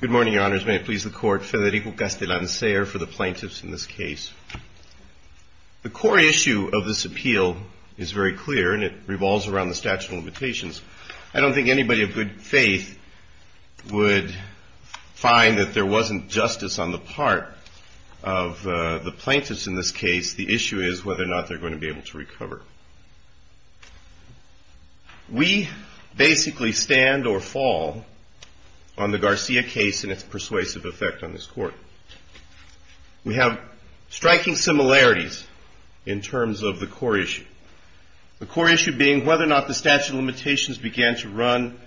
Good morning, your honors. May it please the court, Federico Castellanser for the plaintiffs in this case. The core issue of this appeal is very clear, and it revolves around the statute of limitations. I don't think anybody of good faith would find that there wasn't justice on the part of the plaintiffs in this case. The issue is whether or not they're going to be able to recover. We basically stand or fall on the Garcia case and its persuasive effect on this court. We have striking similarities in terms of the core issue. The core issue being whether or not the statute of limitations began to run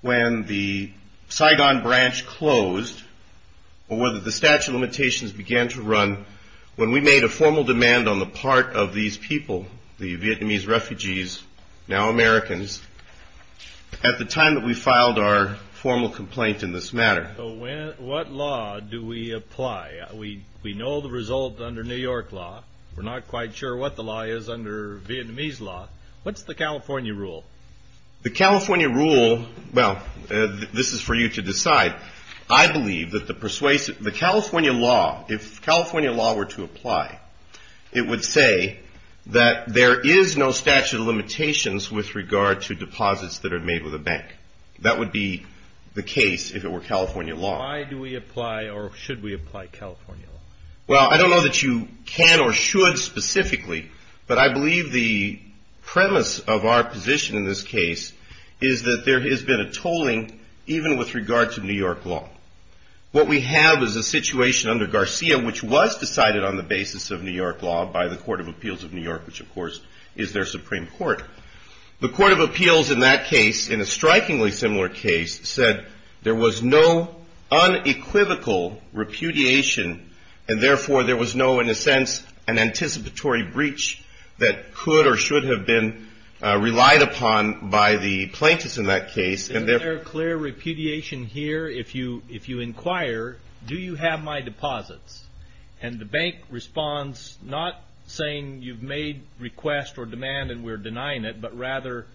when the Saigon branch closed, or whether the statute of limitations began to run when we made a formal demand on the part of these people, the Vietnamese refugees, now Americans, at the time that we filed our formal complaint in this matter. What law do we apply? We know the result under New York law. We're not quite sure what the law is under Vietnamese law. What's the California rule? The California rule, well, this is for you to decide. I believe that the persuasive, the California law, if California law were to apply, it would say that there is no statute of limitations with regard to deposits that are made with a bank. That would be the case if it were California law. Why do we apply, or should we apply California law? Well, I don't know that you can or should specifically, but I believe the premise of our position in this case is that there has been a tolling even with regard to New York law. What we have is a situation under Garcia, which was decided on the basis of New York law by the Court of Appeals of New York, which, of course, is their Supreme Court. The Court of Appeals in that case, in a strikingly similar case, said there was no unequivocal repudiation, and therefore there was no, in a sense, an anticipatory breach that could or should have been relied upon by the plaintiffs in that case. Isn't there clear repudiation here? If you inquire, do you have my deposits? And the bank responds not saying you've made request or demand and we're denying it, but rather,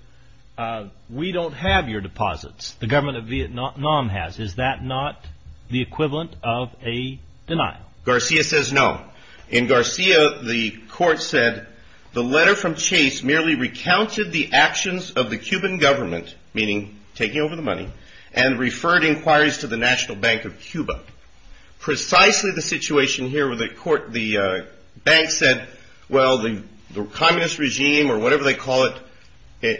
we don't have your deposits. The government of Vietnam has. Is that not the equivalent of a denial? Garcia says no. In Garcia, the court said, the letter from Chase merely recounted the actions of the Cuban government, meaning taking over the money, and referred inquiries to the National Bank of Cuba. Precisely the situation here with the court, the bank said, well, the communist regime, or whatever they call it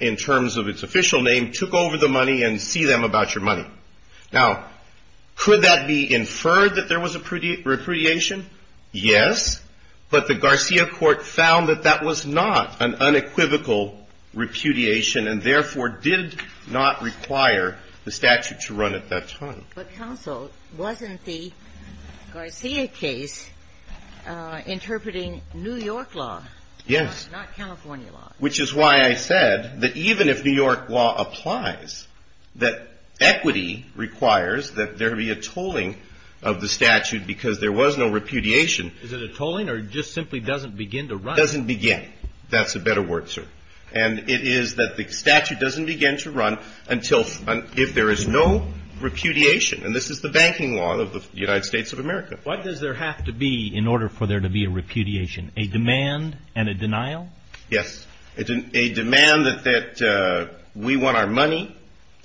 in terms of its official name, took over the money and see them about your money. Now, could that be inferred that there was a repudiation? Yes, but the Garcia court found that that was not an unequivocal repudiation, and therefore, did not require the statute to run at that time. But counsel, wasn't the Garcia case interpreting New York law, not California law? Which is why I said that even if New York law applies, that equity requires that there be a tolling of the statute because there was no repudiation. Is it a tolling or just simply doesn't begin to run? Doesn't begin. That's a better word, sir. And it is that the statute doesn't begin to run until if there is no repudiation. And this is the banking law of the United States of America. What does there have to be in order for there to be a repudiation? A demand and a denial? Yes, a demand that we want our money,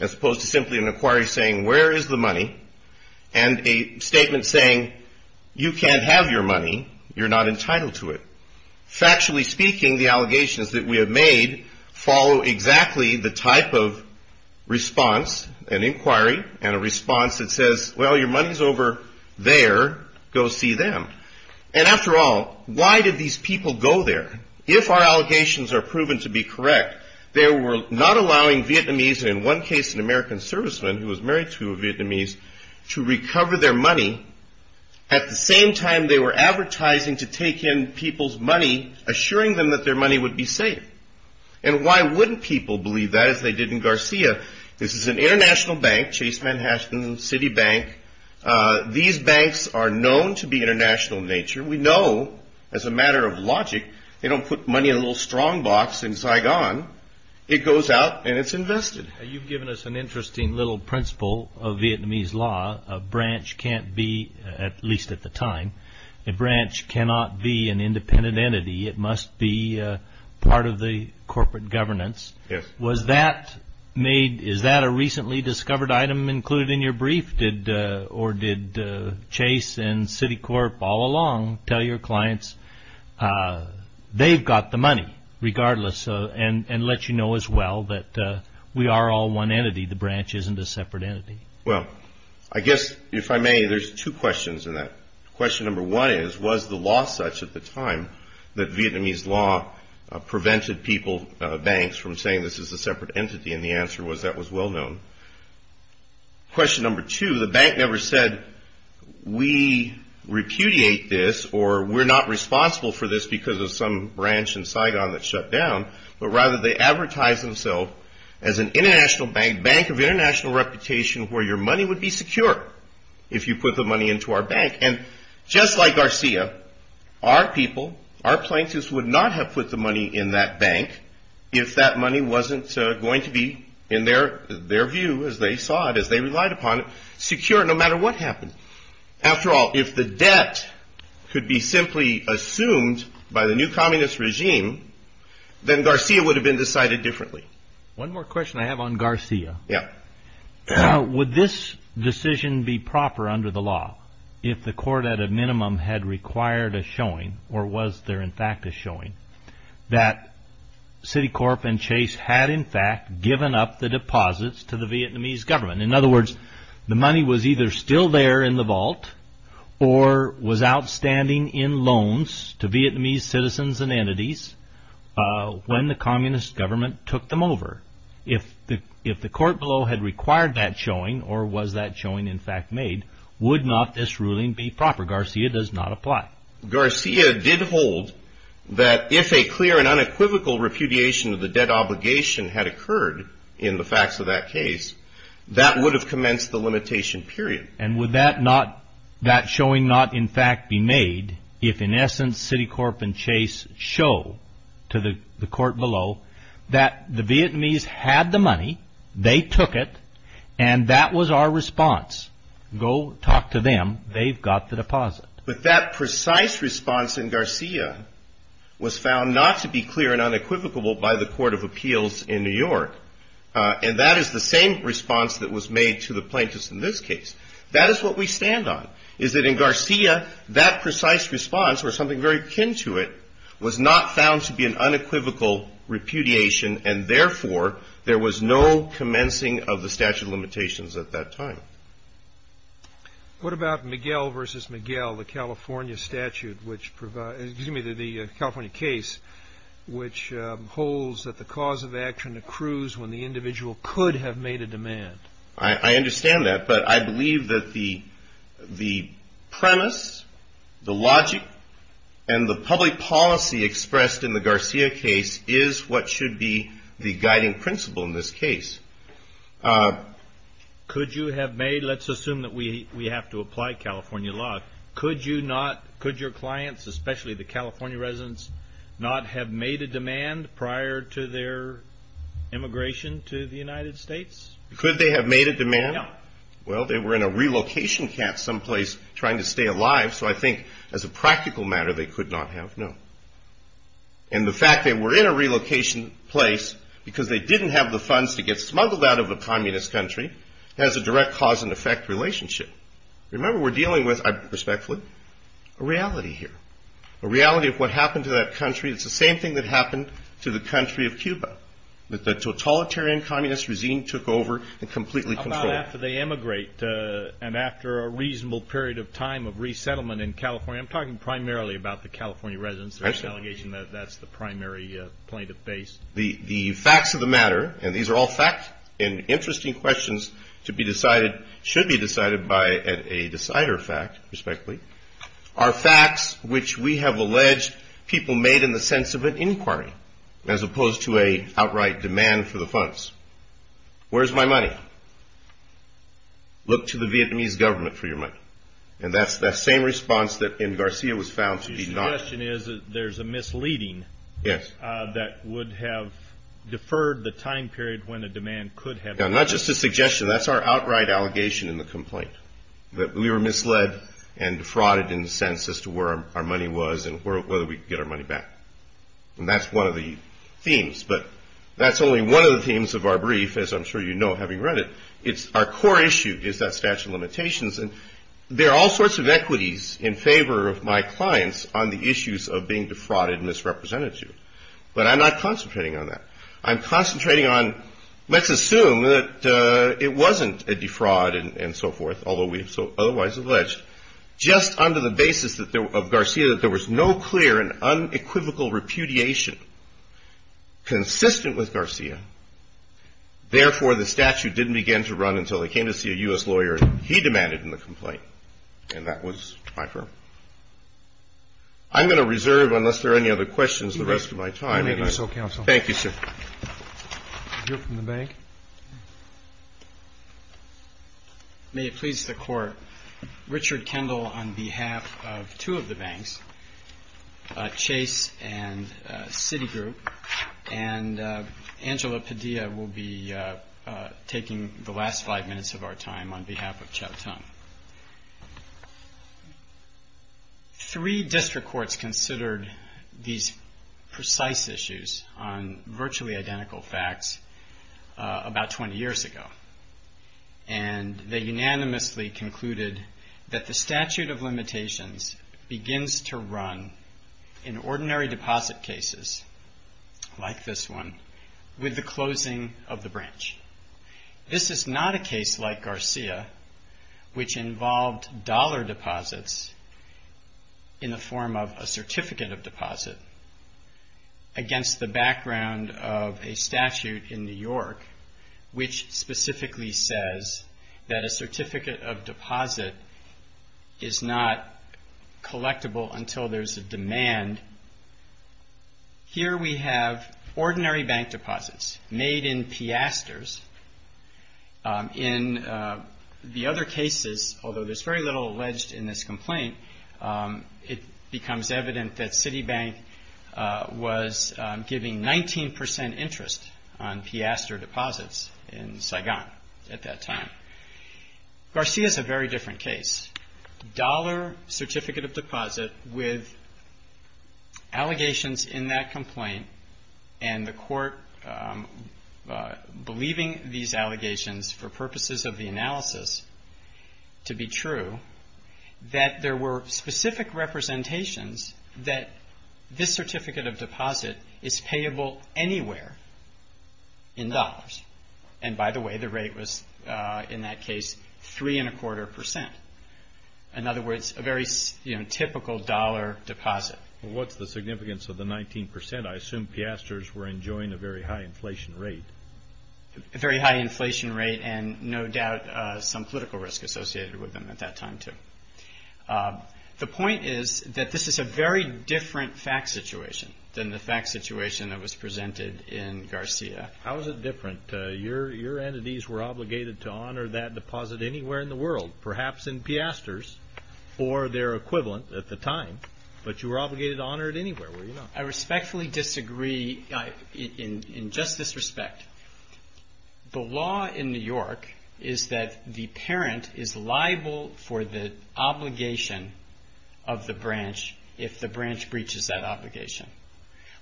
as opposed to simply an inquiry saying, where is the money? And a statement saying, you can't have your money, you're not entitled to it. Factually speaking, the allegations that we have made follow exactly the type of response, an inquiry, and a response that says, well, your money's over there, go see them. And after all, why did these people go there? If our allegations are proven to be correct, they were not allowing Vietnamese, and in one case, an American serviceman who was married to a Vietnamese, to recover their money. At the same time, they were advertising to take in people's money, assuring them that their money would be safe. And why wouldn't people believe that, as they did in Garcia? This is an international bank, Chase Manhattan City Bank. These banks are known to be international in nature. We know, as a matter of logic, they don't put money in a little strong box in Saigon. It goes out and it's invested. You've given us an interesting little principle of Vietnamese law, a branch can't be, at least at the time, a branch cannot be an independent entity. It must be part of the corporate governance. Was that made, is that a recently discovered item included in your brief, or did Chase and Citicorp all along tell your clients, they've got the money, regardless, and let you know as well that we are all one entity, the branch isn't a separate entity. Well, I guess, if I may, there's two questions in that. Question number one is, was the law such at the time that Vietnamese law prevented people, banks, from saying this is a separate entity? And the answer was, that was well known. Question number two, the bank never said, we repudiate this, or we're not responsible for this because of some branch in Saigon that shut down, but rather they advertised themselves as an international bank, bank of international reputation where your money would be secure if you put the money into our bank. Just like Garcia, our people, our plaintiffs would not have put the money in that bank if that money wasn't going to be, in their view, as they saw it, as they relied upon it, secure no matter what happened. After all, if the debt could be simply assumed by the new communist regime, then Garcia would have been decided differently. One more question I have on Garcia. Yeah. Would this decision be proper under the law if the court, at a minimum, had required a showing, or was there, in fact, a showing, that Citicorp and Chase had, in fact, given up the deposits to the Vietnamese government? In other words, the money was either still there in the vault or was outstanding in loans to Vietnamese citizens and entities when the communist government took them over. If the court below had required that showing, or was that showing, in fact, made, would not this ruling be proper? Garcia does not apply. Garcia did hold that if a clear and unequivocal repudiation of the debt obligation had occurred in the facts of that case, that would have commenced the limitation period. And would that showing not, in fact, be made if, in essence, Citicorp and Chase show to the court below that the Vietnamese had the money, they took it, and that was our response? Go talk to them. They've got the deposit. But that precise response in Garcia was found not to be clear and unequivocal by the Court of Appeals in New York. And that is the same response that was made to the plaintiffs in this case. That is what we stand on, is that in Garcia, that precise response, or something very akin to it, was not found to be an unequivocal repudiation, and therefore, there was no commencing of the statute of limitations at that time. What about Miguel v. Miguel, the California statute, which provides, excuse me, the California case, which holds that the cause of action accrues when the individual could have made a demand? I understand that, but I believe that the premise, the logic, and the public policy expressed in the Garcia case is what should be the guiding principle in this case. Could you have made, let's assume that we have to apply California law, could you not, could your clients, especially the California residents, not have made a demand prior to their immigration to the United States? Could they have made a demand? No. Well, they were in a relocation camp someplace trying to stay alive, so I think, as a practical matter, they could not have, no. And the fact they were in a relocation place because they didn't have the funds to get smuggled out of a communist country has a direct cause and effect relationship. Remember, we're dealing with, respectfully, a reality here, a reality of what happened to that country, it's the same thing that happened to the country of Cuba, that the totalitarian communist regime took over and completely controlled it. How about after they emigrate, and after a reasonable period of time of resettlement in California, I'm talking primarily about the California residents, there's an allegation that that's the primary plaintiff base. The facts of the matter, and these are all facts and interesting questions to be decided, should be decided by a decider fact, respectfully, are facts which we have alleged people made in the sense of an inquiry, as opposed to a outright demand for the funds. Where's my money? Look to the Vietnamese government for your money. And that's the same response that M. Garcia was found to be not. His suggestion is that there's a misleading Yes. That would have deferred the time period when the demand could have been. Now, not just a suggestion, that's our outright allegation in the complaint, that we were misled and defrauded in the sense as to where our money was, and whether we could get our money back. And that's one of the themes, but that's only one of the themes of our brief, as I'm sure you know, having read it. Our core issue is that statute of limitations, and there are all sorts of equities in favor of my clients on the issues of being defrauded and misrepresented to. But I'm not concentrating on that. I'm concentrating on, let's assume that it wasn't a defraud and so forth, although we have so otherwise alleged, just under the basis of Garcia, that there was no clear and unequivocal repudiation consistent with Garcia. Therefore, the statute didn't begin to run until they came to see a U.S. lawyer he demanded in the complaint. And that was my firm. I'm going to reserve, unless there are any other questions, the rest of my time. Thank you, counsel. Thank you, sir. You're from the bank. May it please the court. Richard Kendall on behalf of two of the banks, Chase and Citigroup, and Angela Padilla will be taking the last five minutes of our time on behalf of Chow Tong. Three district courts considered these precise issues on virtually identical facts about 20 years ago. And they unanimously concluded that the statute of limitations begins to run in ordinary deposit cases, like this one, with the closing of the branch. This is not a case like Garcia, which involved dollar deposits in the form of a certificate of deposit against the background of a statute in New York, which specifically says that a certificate of deposit is not collectible until there's a demand. Here we have ordinary bank deposits made in piastres in the other cases, although there's very little alleged in this complaint, it becomes evident that Citibank was giving 19% interest on piastre deposits in Saigon at that time. Garcia is a very different case. Dollar certificate of deposit with allegations in that complaint and the court believing these allegations for purposes of the analysis to be true, that there were specific representations that this certificate of deposit is payable anywhere in dollars. And by the way, the rate was in that case, three and a quarter percent. In other words, a very typical dollar deposit. What's the significance of the 19%? I assume piastres were enjoying a very high inflation rate. A very high inflation rate and no doubt some political risk associated with them at that time too. The point is that this is a very different fact situation than the fact situation that was presented in Garcia. How is it different? Your entities were obligated to honor that deposit anywhere in the world, perhaps in piastres or their equivalent at the time, but you were obligated to honor it anywhere. I respectfully disagree in just this respect. The law in New York is that the parent is liable for the obligation of the branch if the branch breaches that obligation.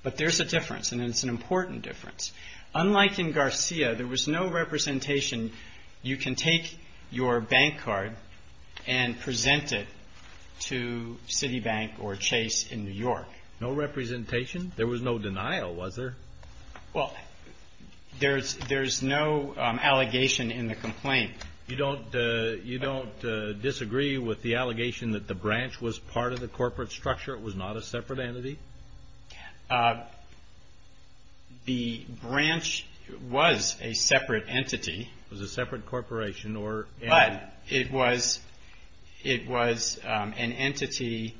But there's a difference and it's an important difference. Unlike in Garcia, there was no representation. You can take your bank card and present it to Citibank or Chase in New York. No representation? There was no denial, was there? Well, there's no allegation in the complaint. You don't disagree with the allegation that the branch was part of the corporate structure, it was not a separate entity? The branch was a separate entity. Was a separate corporation or? But it was an entity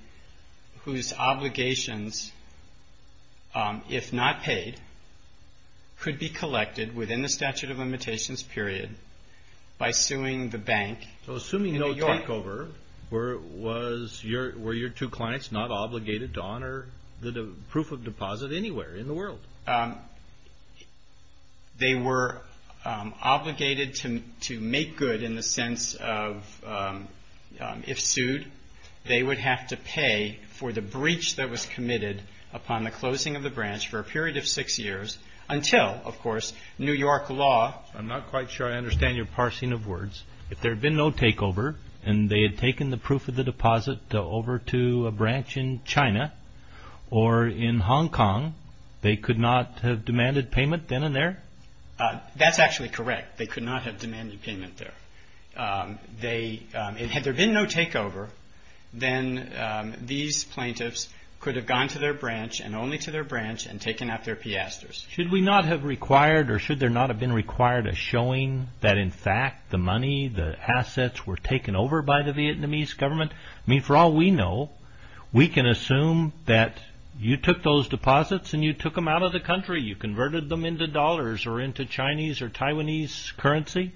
whose obligations, if not paid, could be collected within the statute of limitations period by suing the bank in New York. So assuming no takeover, were your two clients not obligated to honor the proof of deposit anywhere in the world? No, they were obligated to make good in the sense of if sued, they would have to pay for the breach that was committed upon the closing of the branch for a period of six years until, of course, New York law. I'm not quite sure I understand your parsing of words. If there had been no takeover and they had taken the proof of the deposit over to a branch in China or in Hong Kong, they could not have demanded payment then and there? That's actually correct. They could not have demanded payment there. Had there been no takeover, then these plaintiffs could have gone to their branch and only to their branch and taken out their piastres. Should we not have required or should there not have been required a showing that in fact the money, the assets were taken over by the Vietnamese government? I mean, for all we know, we can assume that you took those deposits and you took them out of the country. You converted them into dollars or into Chinese or Taiwanese currency.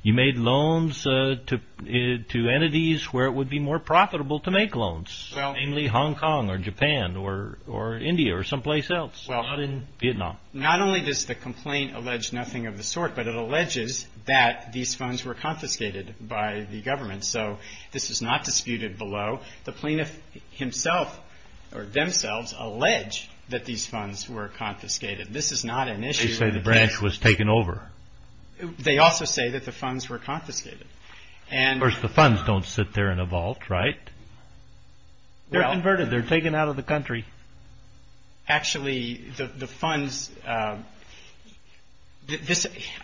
You made loans to entities where it would be more profitable to make loans, namely Hong Kong or Japan or India or someplace else, not in Vietnam. Not only does the complaint allege nothing of the sort, but it alleges that these funds were confiscated by the government. So this is not disputed below. The plaintiff himself or themselves allege that these funds were confiscated. This is not an issue. They say the branch was taken over. They also say that the funds were confiscated. Of course, the funds don't sit there in a vault, right? They're converted. They're taken out of the country. Actually, the funds, I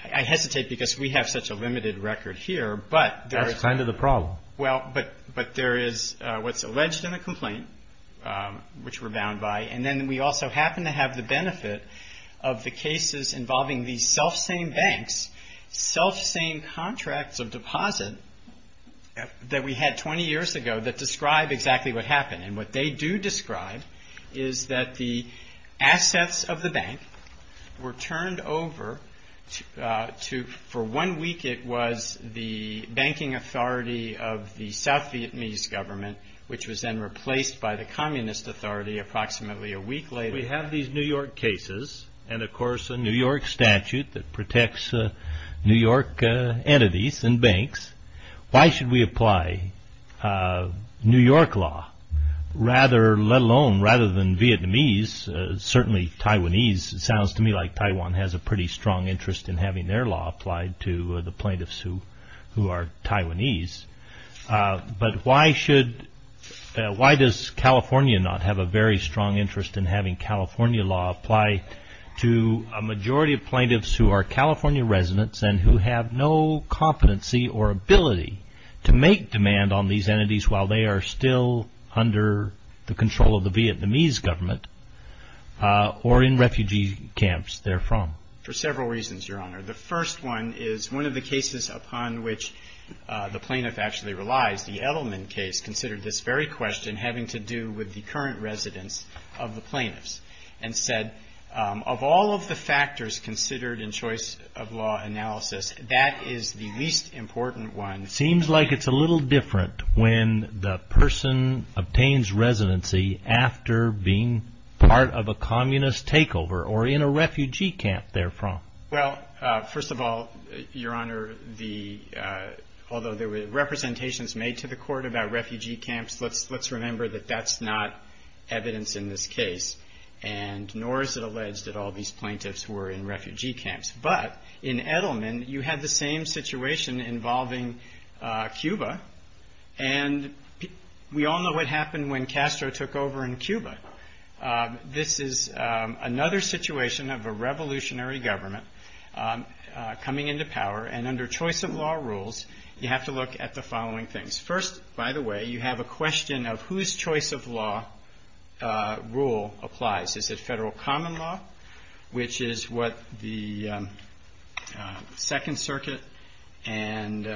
hesitate because we have such a limited record here, but there is- That's kind of the problem. Well, but there is what's alleged in the complaint, which we're bound by. And then we also happen to have the benefit of the cases involving these selfsame banks, selfsame contracts of deposit that we had 20 years ago that describe exactly what happened. And what they do describe is that the assets of the bank were turned over for one week it was the banking authority of the South Vietnamese government, which was then replaced by the communist authority approximately a week later. We have these New York cases, and of course, a New York statute that protects New York entities and banks. Why should we apply New York law? Rather, let alone, rather than Vietnamese, certainly Taiwanese, it sounds to me like Taiwan has a pretty strong interest in having their law applied to the plaintiffs who are Taiwanese. But why should, why does California not have a very strong interest in having California law apply to a majority of plaintiffs who are California residents and who have no competency or ability to make demand on these entities while they are still under the control or in refugee camps they're from? For several reasons, Your Honor. The first one is one of the cases upon which the plaintiff actually relies. The Edelman case considered this very question having to do with the current residence of the plaintiffs and said, of all of the factors considered in choice of law analysis, that is the least important one. Seems like it's a little different when the person obtains residency after being part of a communist takeover or in a refugee camp they're from. Well, first of all, Your Honor, although there were representations made to the court about refugee camps, let's remember that that's not evidence in this case. And nor is it alleged that all these plaintiffs were in refugee camps. But in Edelman, you had the same situation involving Cuba. And we all know what happened when Castro took over in Cuba. This is another situation of a revolutionary government coming into power. And under choice of law rules, you have to look at the following things. First, by the way, you have a question of whose choice of law rule applies. Is it federal common law, which is what the Second Circuit and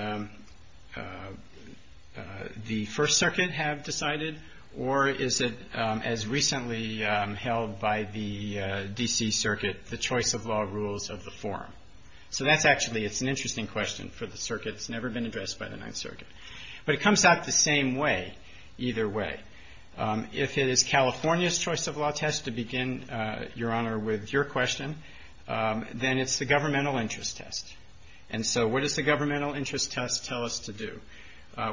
the First Circuit have decided? Or is it, as recently held by the D.C. Circuit, the choice of law rules of the forum? So that's actually, it's an interesting question for the circuit. It's never been addressed by the Ninth Circuit. But it comes out the same way, either way. If it is California's choice of law test to begin, Your Honor, with your question, then it's the governmental interest test. And so what does the governmental interest test tell us to do?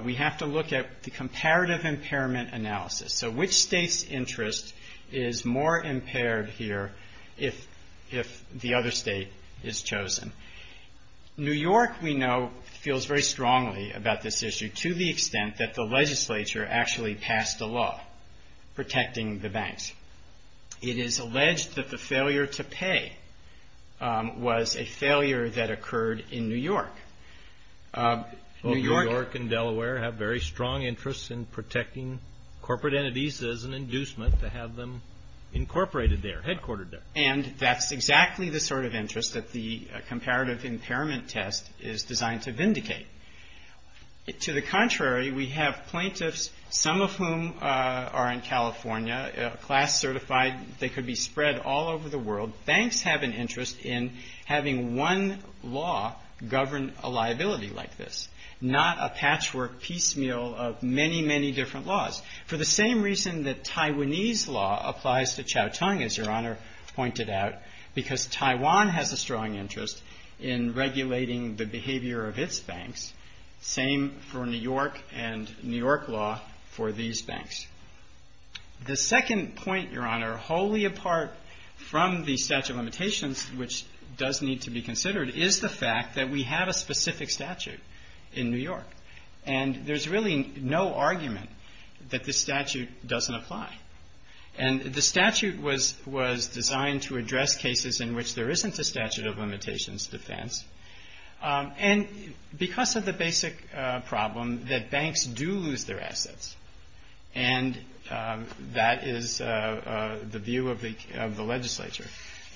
We have to look at the comparative impairment analysis. So which state's interest is more impaired here if the other state is chosen? New York, we know, feels very strongly about this issue to the extent that the legislature actually passed a law protecting the banks. It is alleged that the failure to pay was a failure that occurred in New York. New York and Delaware have very strong interests in protecting corporate entities as an inducement to have them incorporated there, headquartered there. And that's exactly the sort of interest that the comparative impairment test is designed to vindicate. To the contrary, we have plaintiffs, some of whom are in California, class certified, they could be spread all over the world. Banks have an interest in having one law govern a liability like this, not a patchwork piecemeal of many, many different laws. For the same reason that Taiwanese law applies to Chow Tong, as Your Honor pointed out, because Taiwan has a strong interest in regulating the behavior of its banks, same for New York and New York law for these banks. The second point, Your Honor, wholly apart from the statute of limitations, which does need to be considered, is the fact that we have a specific statute in New York. And there's really no argument that this statute doesn't apply. And the statute was designed to address cases in which there isn't a statute of limitations defense. And because of the basic problem that banks do lose their assets, and that is the view of the legislature,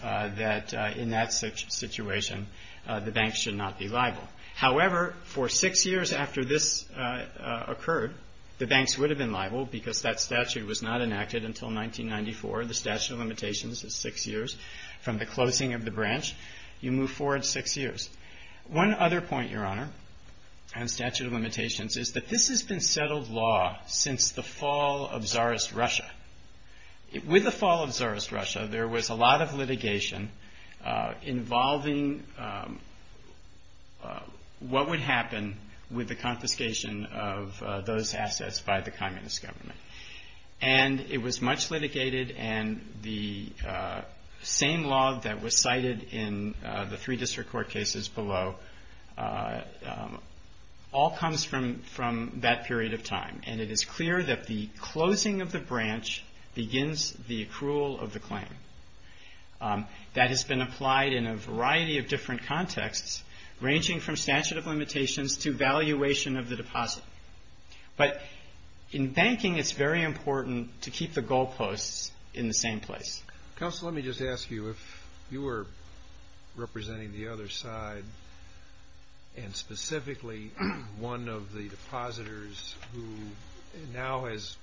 that in that situation, the banks should not be liable. However, for six years after this occurred, the banks would have been liable because that statute was not enacted until 1994. The statute of limitations is six years from the closing of the branch. You move forward six years. One other point, Your Honor, on statute of limitations is that this has been settled law since the fall of Tsarist Russia. With the fall of Tsarist Russia, there was a lot of litigation involving what would happen with the confiscation of those assets by the communist government. And it was much litigated, and the same law that was cited in the three district court cases below, all comes from that period of time. And it is clear that the closing of the branch begins the accrual of the claim. That has been applied in a variety of different contexts, ranging from statute of limitations to valuation of the deposit. But in banking, it's very important to keep the goalposts in the same place. Counsel, let me just ask you, if you were representing the other side, and specifically one of the depositors who now has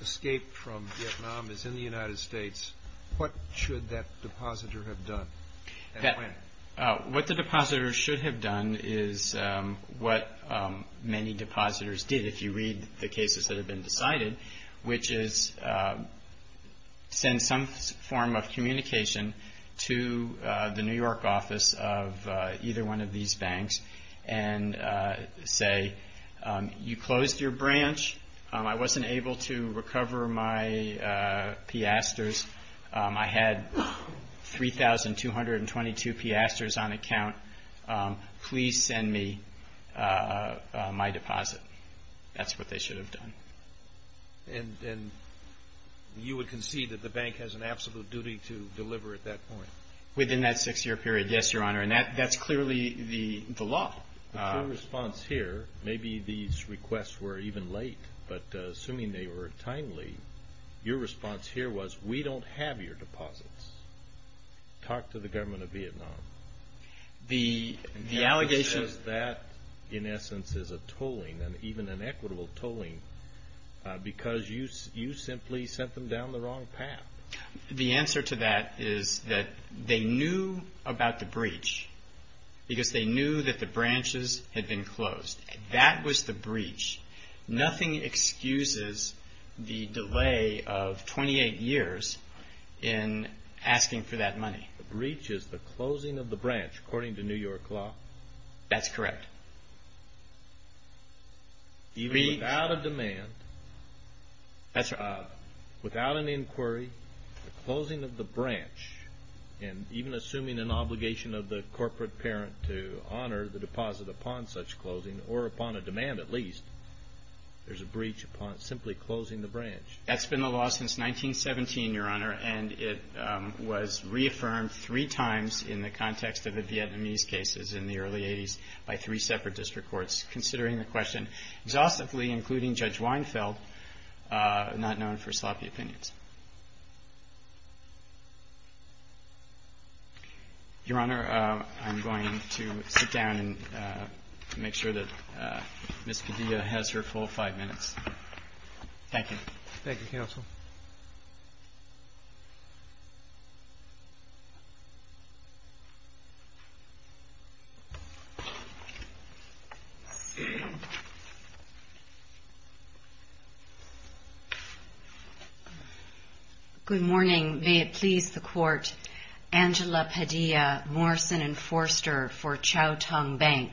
escaped from Vietnam, is in the United States, what should that depositor have done? What the depositor should have done is what many depositors did, if you read the cases that have been decided, which is send some form of communication to the New York office of either one of these banks and say, you closed your branch, I wasn't able to recover my piastres, I had 3,222 piastres on account, please send me my deposit. That's what they should have done. And you would concede that the bank has an absolute duty to deliver at that point? Within that six-year period, yes, Your Honor. And that's clearly the law. The full response here, maybe these requests were even late, but assuming they were timely, your response here was, we don't have your deposits. Talk to the government of Vietnam. The allegation is that, in essence, is a tolling, and even an equitable tolling, because you simply sent them down the wrong path. The answer to that is that they knew about the breach, because they knew that the branches had been closed. That was the breach. Nothing excuses the delay of 28 years in asking for that money. The breach is the closing of the branch, according to New York law? That's correct. Even without a demand, without an inquiry, the closing of the branch, and even assuming an obligation of the corporate parent to honor the deposit upon such closing, or upon a demand at least, there's a breach upon simply closing the branch. That's been the law since 1917, Your Honor, and it was reaffirmed three times in the context of the Vietnamese cases in the early 80s by three separate district courts, considering the question exhaustively, including Judge Weinfeld, not known for sloppy opinions. Your Honor, I'm going to sit down and make sure that Ms. Padilla has her full five minutes. Thank you. Thank you, counsel. Thank you. Good morning. May it please the court. Angela Padilla, Morrison and Forster for Chow Tong Bank,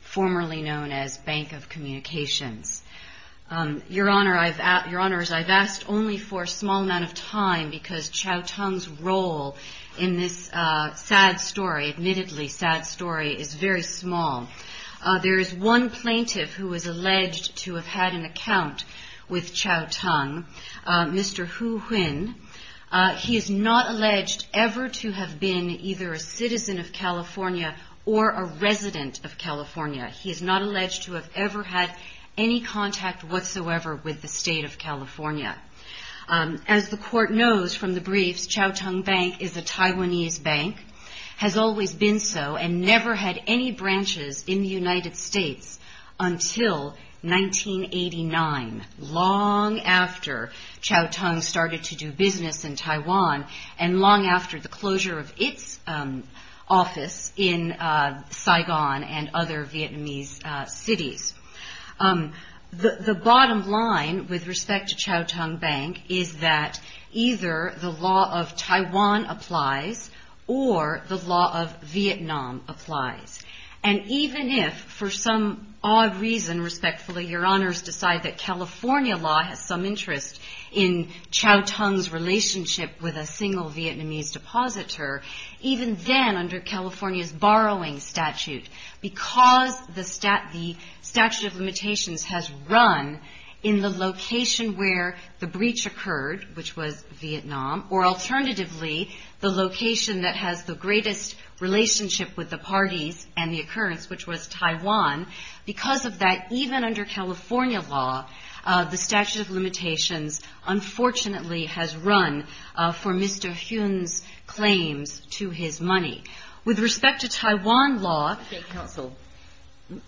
formerly known as Bank of Communications. Your Honor, I've asked, Your Honors, I've asked only for a small amount of time because Chow Tong's role in this sad story, admittedly sad story, is very small. There is one plaintiff who is alleged to have had an account with Chow Tong, Mr. Hu Huynh. He is not alleged ever to have been either a citizen of California or a resident of California. He is not alleged to have ever had any contact whatsoever with the state of California. As the court knows from the briefs, Chow Tong Bank is a Taiwanese bank, has always been so, and never had any branches in the United States until 1989, long after Chow Tong started to do business in Taiwan and long after the closure of its office in Saigon and other Vietnamese cities. The bottom line with respect to Chow Tong Bank is that either the law of Taiwan applies or the law of Vietnam applies. And even if for some odd reason, respectfully, Your Honors decide that California law has some interest in Chow Tong's relationship with a single Vietnamese depositor, even then under California's borrowing statute, because the statute of limitations has run in the location where the breach occurred, which was Vietnam, or alternatively, the location that has the greatest relationship with the parties and the occurrence, which was Taiwan, because of that, even under California law, the statute of limitations unfortunately has run for Mr. Huynh's claims to his money. With respect to Taiwan law- Okay, counsel,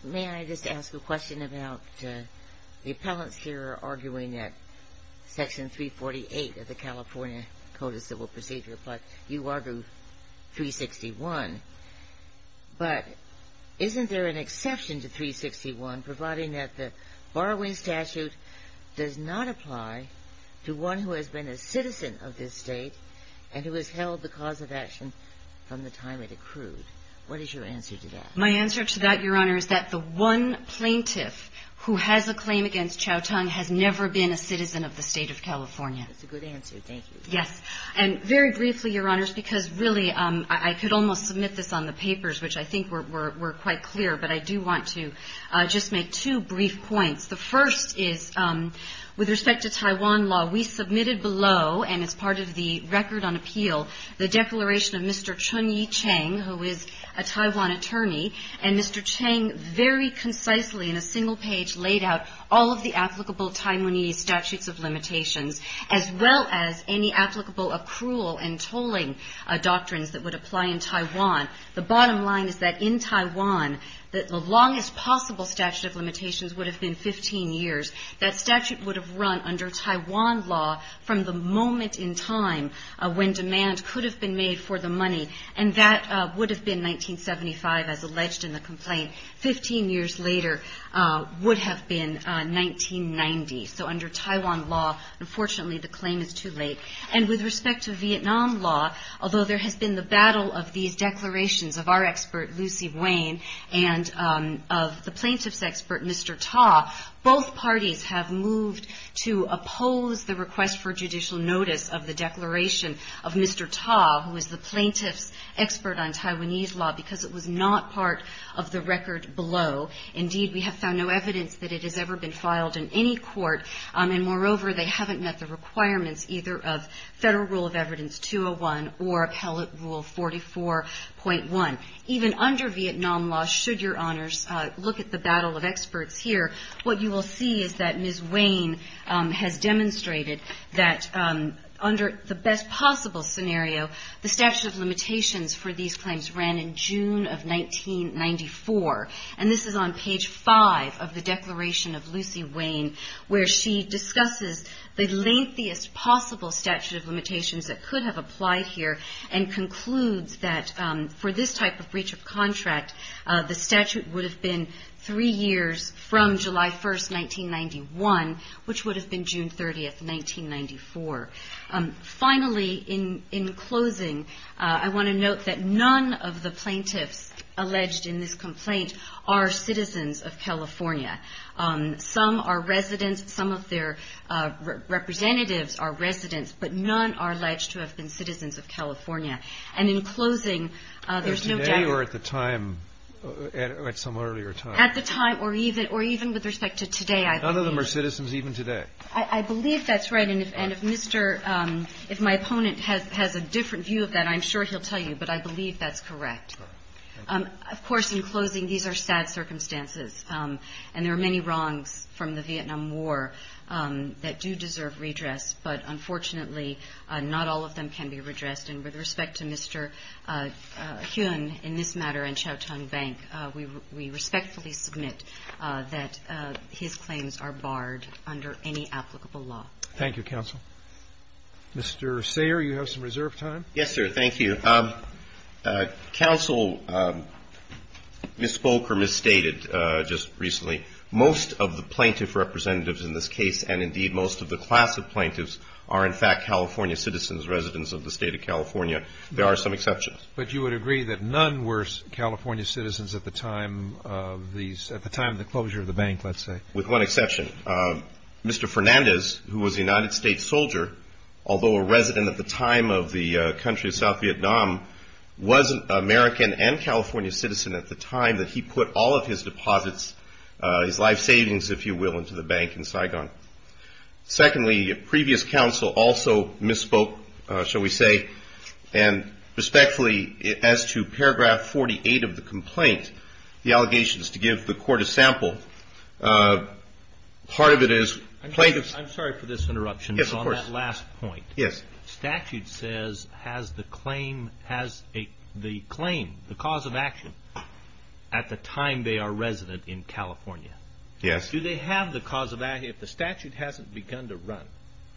may I just ask a question about the appellants here are arguing that Section 348 of the California Code of Civil Procedure, but you argue 361. But isn't there an exception to 361, providing that the borrowing statute does not apply to one who has been a citizen of this state and who has held the cause of action from the time it accrued? What is your answer to that? My answer to that, Your Honor, is that the one plaintiff who has a claim against Chow Tong has never been a citizen of the state of California. That's a good answer, thank you. Yes, and very briefly, Your Honors, because really I could almost submit this on the papers, which I think were quite clear, but I do want to just make two brief points. The first is, with respect to Taiwan law, we submitted below, and it's part of the record on appeal, the declaration of Mr. Chun-Yi Cheng, who is a Taiwan attorney, and Mr. Cheng very concisely in a single page laid out all of the applicable Taiwanese statutes of limitations, as well as any applicable accrual and tolling doctrines that would apply in Taiwan. The bottom line is that in Taiwan, that the longest possible statute of limitations would have been 15 years. That statute would have run under Taiwan law from the moment in time when demand could have been made for the money, and that would have been 1975, as alleged in the complaint. 15 years later would have been 1990. So under Taiwan law, unfortunately the claim is too late. And with respect to Vietnam law, although there has been the battle of these declarations of our expert, Lucy Wayne, and of the plaintiff's expert, Mr. Ta, both parties have moved to oppose the request for judicial notice of the declaration of Mr. Ta, who is the plaintiff's expert on Taiwanese law because it was not part of the record below. Indeed, we have found no evidence that it has ever been filed in any court, and moreover, they haven't met the requirements either of Federal Rule of Evidence 201 or Appellate Rule 44.1. Even under Vietnam law, should your honors look at the battle of experts here, what you will see is that Ms. Wayne has demonstrated that under the best possible scenario, the statute of limitations for these claims ran in June of 1994. And this is on page five of the declaration of Lucy Wayne where she discusses the lengthiest possible statute of limitations that could have applied here and concludes that for this type of breach of contract, the statute would have been three years from July 1st, 1991, which would have been June 30th, 1994. Finally, in closing, I want to note that none of the plaintiffs alleged in this complaint are citizens of California. Some are residents, some of their representatives are residents, but none are alleged to have been citizens of California. And in closing, there's no doubt. Is today or at the time, at some earlier time? At the time or even with respect to today, I believe. None of them are citizens even today? I believe that's right, and if Mr., if my opponent has a different view of that, I'm sure he'll tell you, but I believe that's correct. Of course, in closing, these are sad circumstances, and there are many wrongs from the Vietnam War that do deserve redress, but unfortunately, not all of them can be redressed. And with respect to Mr. Huynh, in this matter, and Chow Tung Bank, we respectfully submit that his claims are barred under any applicable law. Thank you, counsel. Mr. Sayre, you have some reserve time? Yes, sir, thank you. Counsel misspoke or misstated just recently. Most of the plaintiff representatives in this case, and indeed most of the class of plaintiffs, are in fact California citizens, residents of the state of California. There are some exceptions. But you would agree that none were California citizens at the time of the closure of the bank, let's say? With one exception. Mr. Fernandez, who was a United States soldier, although a resident at the time of the country of South Vietnam, was an American and California citizen at the time if you will, into the bank in Saigon. Secondly, previous counsel also misspoke, shall we say, and respectfully, as to paragraph 48 of the complaint, the allegations to give the court a sample, part of it is plaintiffs. I'm sorry for this interruption. Yes, of course. On that last point. Yes. Statute says has the claim, has the claim, the cause of action, at the time they are resident in California. Yes. Do they have the cause of action, if the statute hasn't begun to run,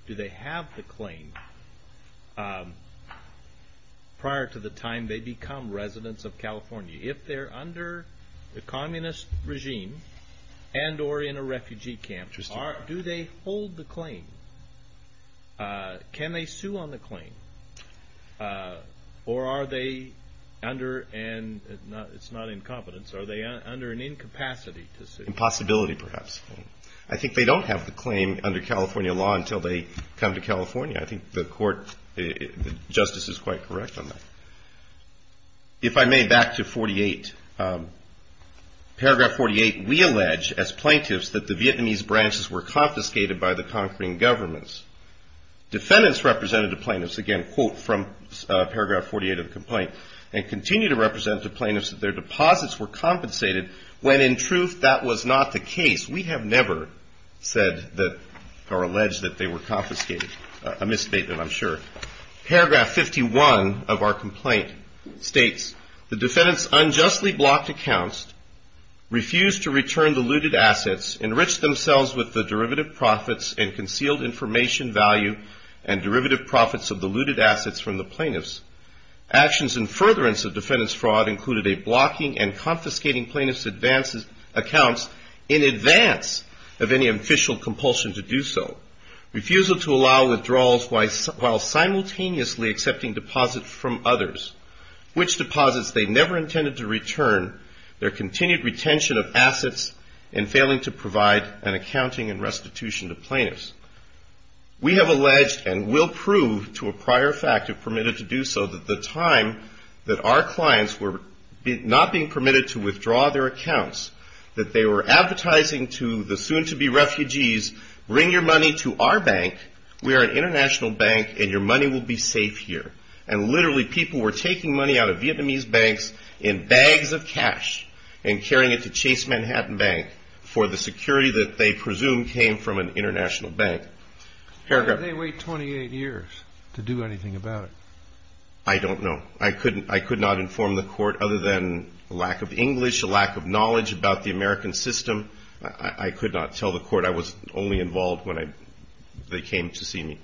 do they have the claim prior to the time they become residents of California? If they're under the communist regime and or in a refugee camp, do they hold the claim? Can they sue on the claim? Or are they under, and it's not incompetence, are they under an incapacity to sue? Impossibility, perhaps. I think they don't have the claim under California law until they come to California. I think the court, the justice is quite correct on that. If I may, back to 48. Paragraph 48, we allege as plaintiffs that the Vietnamese branches were confiscated by the conquering governments. Defendants represented the plaintiffs, again, quote from paragraph 48 of the complaint, and continue to represent the plaintiffs that their deposits were compensated when in truth that was not the case. We have never said that or alleged that they were confiscated, a misstatement, I'm sure. Paragraph 51 of our complaint states, the defendants unjustly blocked accounts, refused to return the looted assets, enriched themselves with the derivative profits and concealed information value and derivative profits of the looted assets from the plaintiffs. Actions in furtherance of defendants' fraud included a blocking and confiscating plaintiffs' accounts in advance of any official compulsion to do so, refusal to allow withdrawals while simultaneously accepting deposits from others, which deposits they never intended to return, their continued retention of assets and failing to provide an accounting and restitution to plaintiffs. We have alleged and will prove to a prior fact if permitted to do so that the time that our clients were not being permitted to withdraw their accounts, that they were advertising to the soon-to-be refugees, bring your money to our bank. We are an international bank and your money will be safe here. And literally people were taking money out of Vietnamese banks in bags of cash and carrying it to Chase Manhattan Bank for the security that they presumed came from an international bank. Paragraph. I don't know. I could not inform the court other than a lack of English, a lack of knowledge about the American system. I could not tell the court. I was only involved when they came to see me.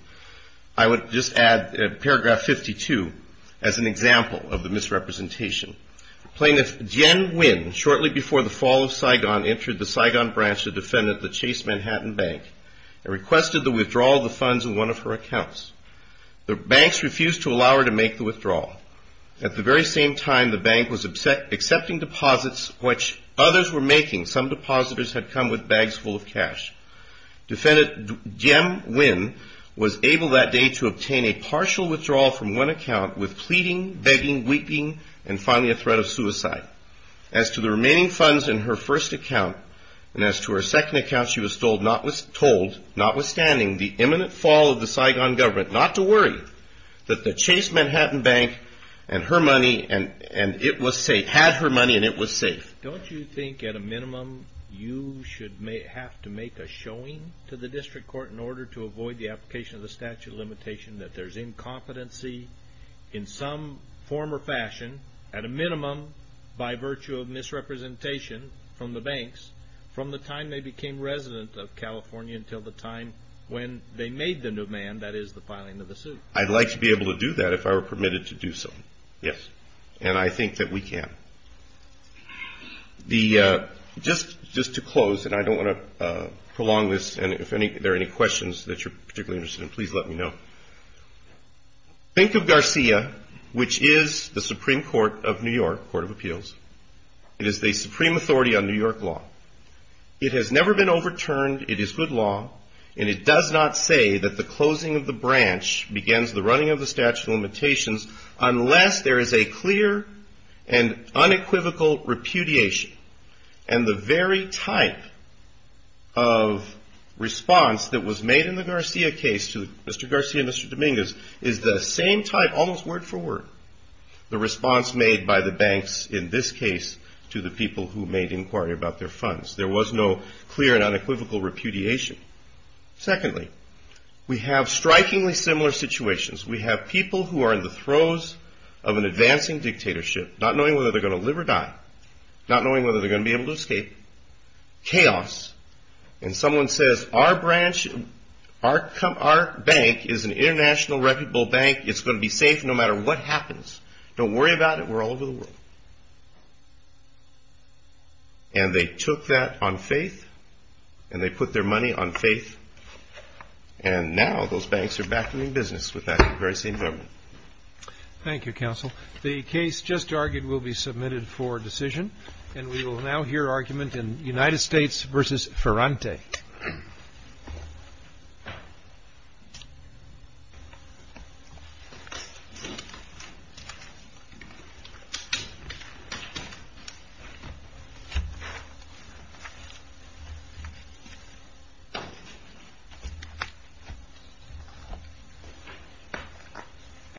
I would just add paragraph 52 as an example of the misrepresentation. Plaintiff Jen Nguyen shortly before the fall of Saigon entered the Saigon branch of defendant that Chase Manhattan Bank and requested the withdrawal of the funds in one of her accounts. The banks refused to allow her to make the withdrawal. At the very same time, the bank was accepting deposits which others were making. Some depositors had come with bags full of cash. Defendant Jen Nguyen was able that day to obtain a partial withdrawal from one account with pleading, begging, weeping, and finally a threat of suicide. As to the remaining funds in her first account and as to her second account, she was told notwithstanding the imminent fall of the Saigon government not to worry that the Chase Manhattan Bank and her money and it was safe, had her money and it was safe. Don't you think at a minimum you should have to make a showing to the district court in order to avoid the application of the statute of limitation that there's incompetency in some form or fashion at a minimum by virtue of misrepresentation from the banks from the time they became resident of California until the time when they made the new man, and that is the filing of the suit? I'd like to be able to do that if I were permitted to do so, yes. And I think that we can. Just to close and I don't want to prolong this and if there are any questions that you're particularly interested in, please let me know. Think of Garcia, which is the Supreme Court of New York, Court of Appeals. It is the supreme authority on New York law. It has never been overturned. It is good law and it does not say that the closing of the branch begins the running of the statute of limitations unless there is a clear and unequivocal repudiation. And the very type of response that was made in the Garcia case to Mr. Garcia and Mr. Dominguez is the same type, almost word for word, the response made by the banks in this case to the people who made inquiry about their funds. There was no clear and unequivocal repudiation. Secondly, we have strikingly similar situations. We have people who are in the throes of an advancing dictatorship, not knowing whether they're going to live or die, not knowing whether they're going to be able to escape, chaos, and someone says, our bank is an international reputable bank. It's going to be safe no matter what happens. Don't worry about it. We're all over the world. And they took that on faith and they put their money on faith. And now those banks are back in business with that very same government. Thank you, counsel. The case just argued will be submitted for decision. And we will now hear argument in United States versus Ferrante. Thank you.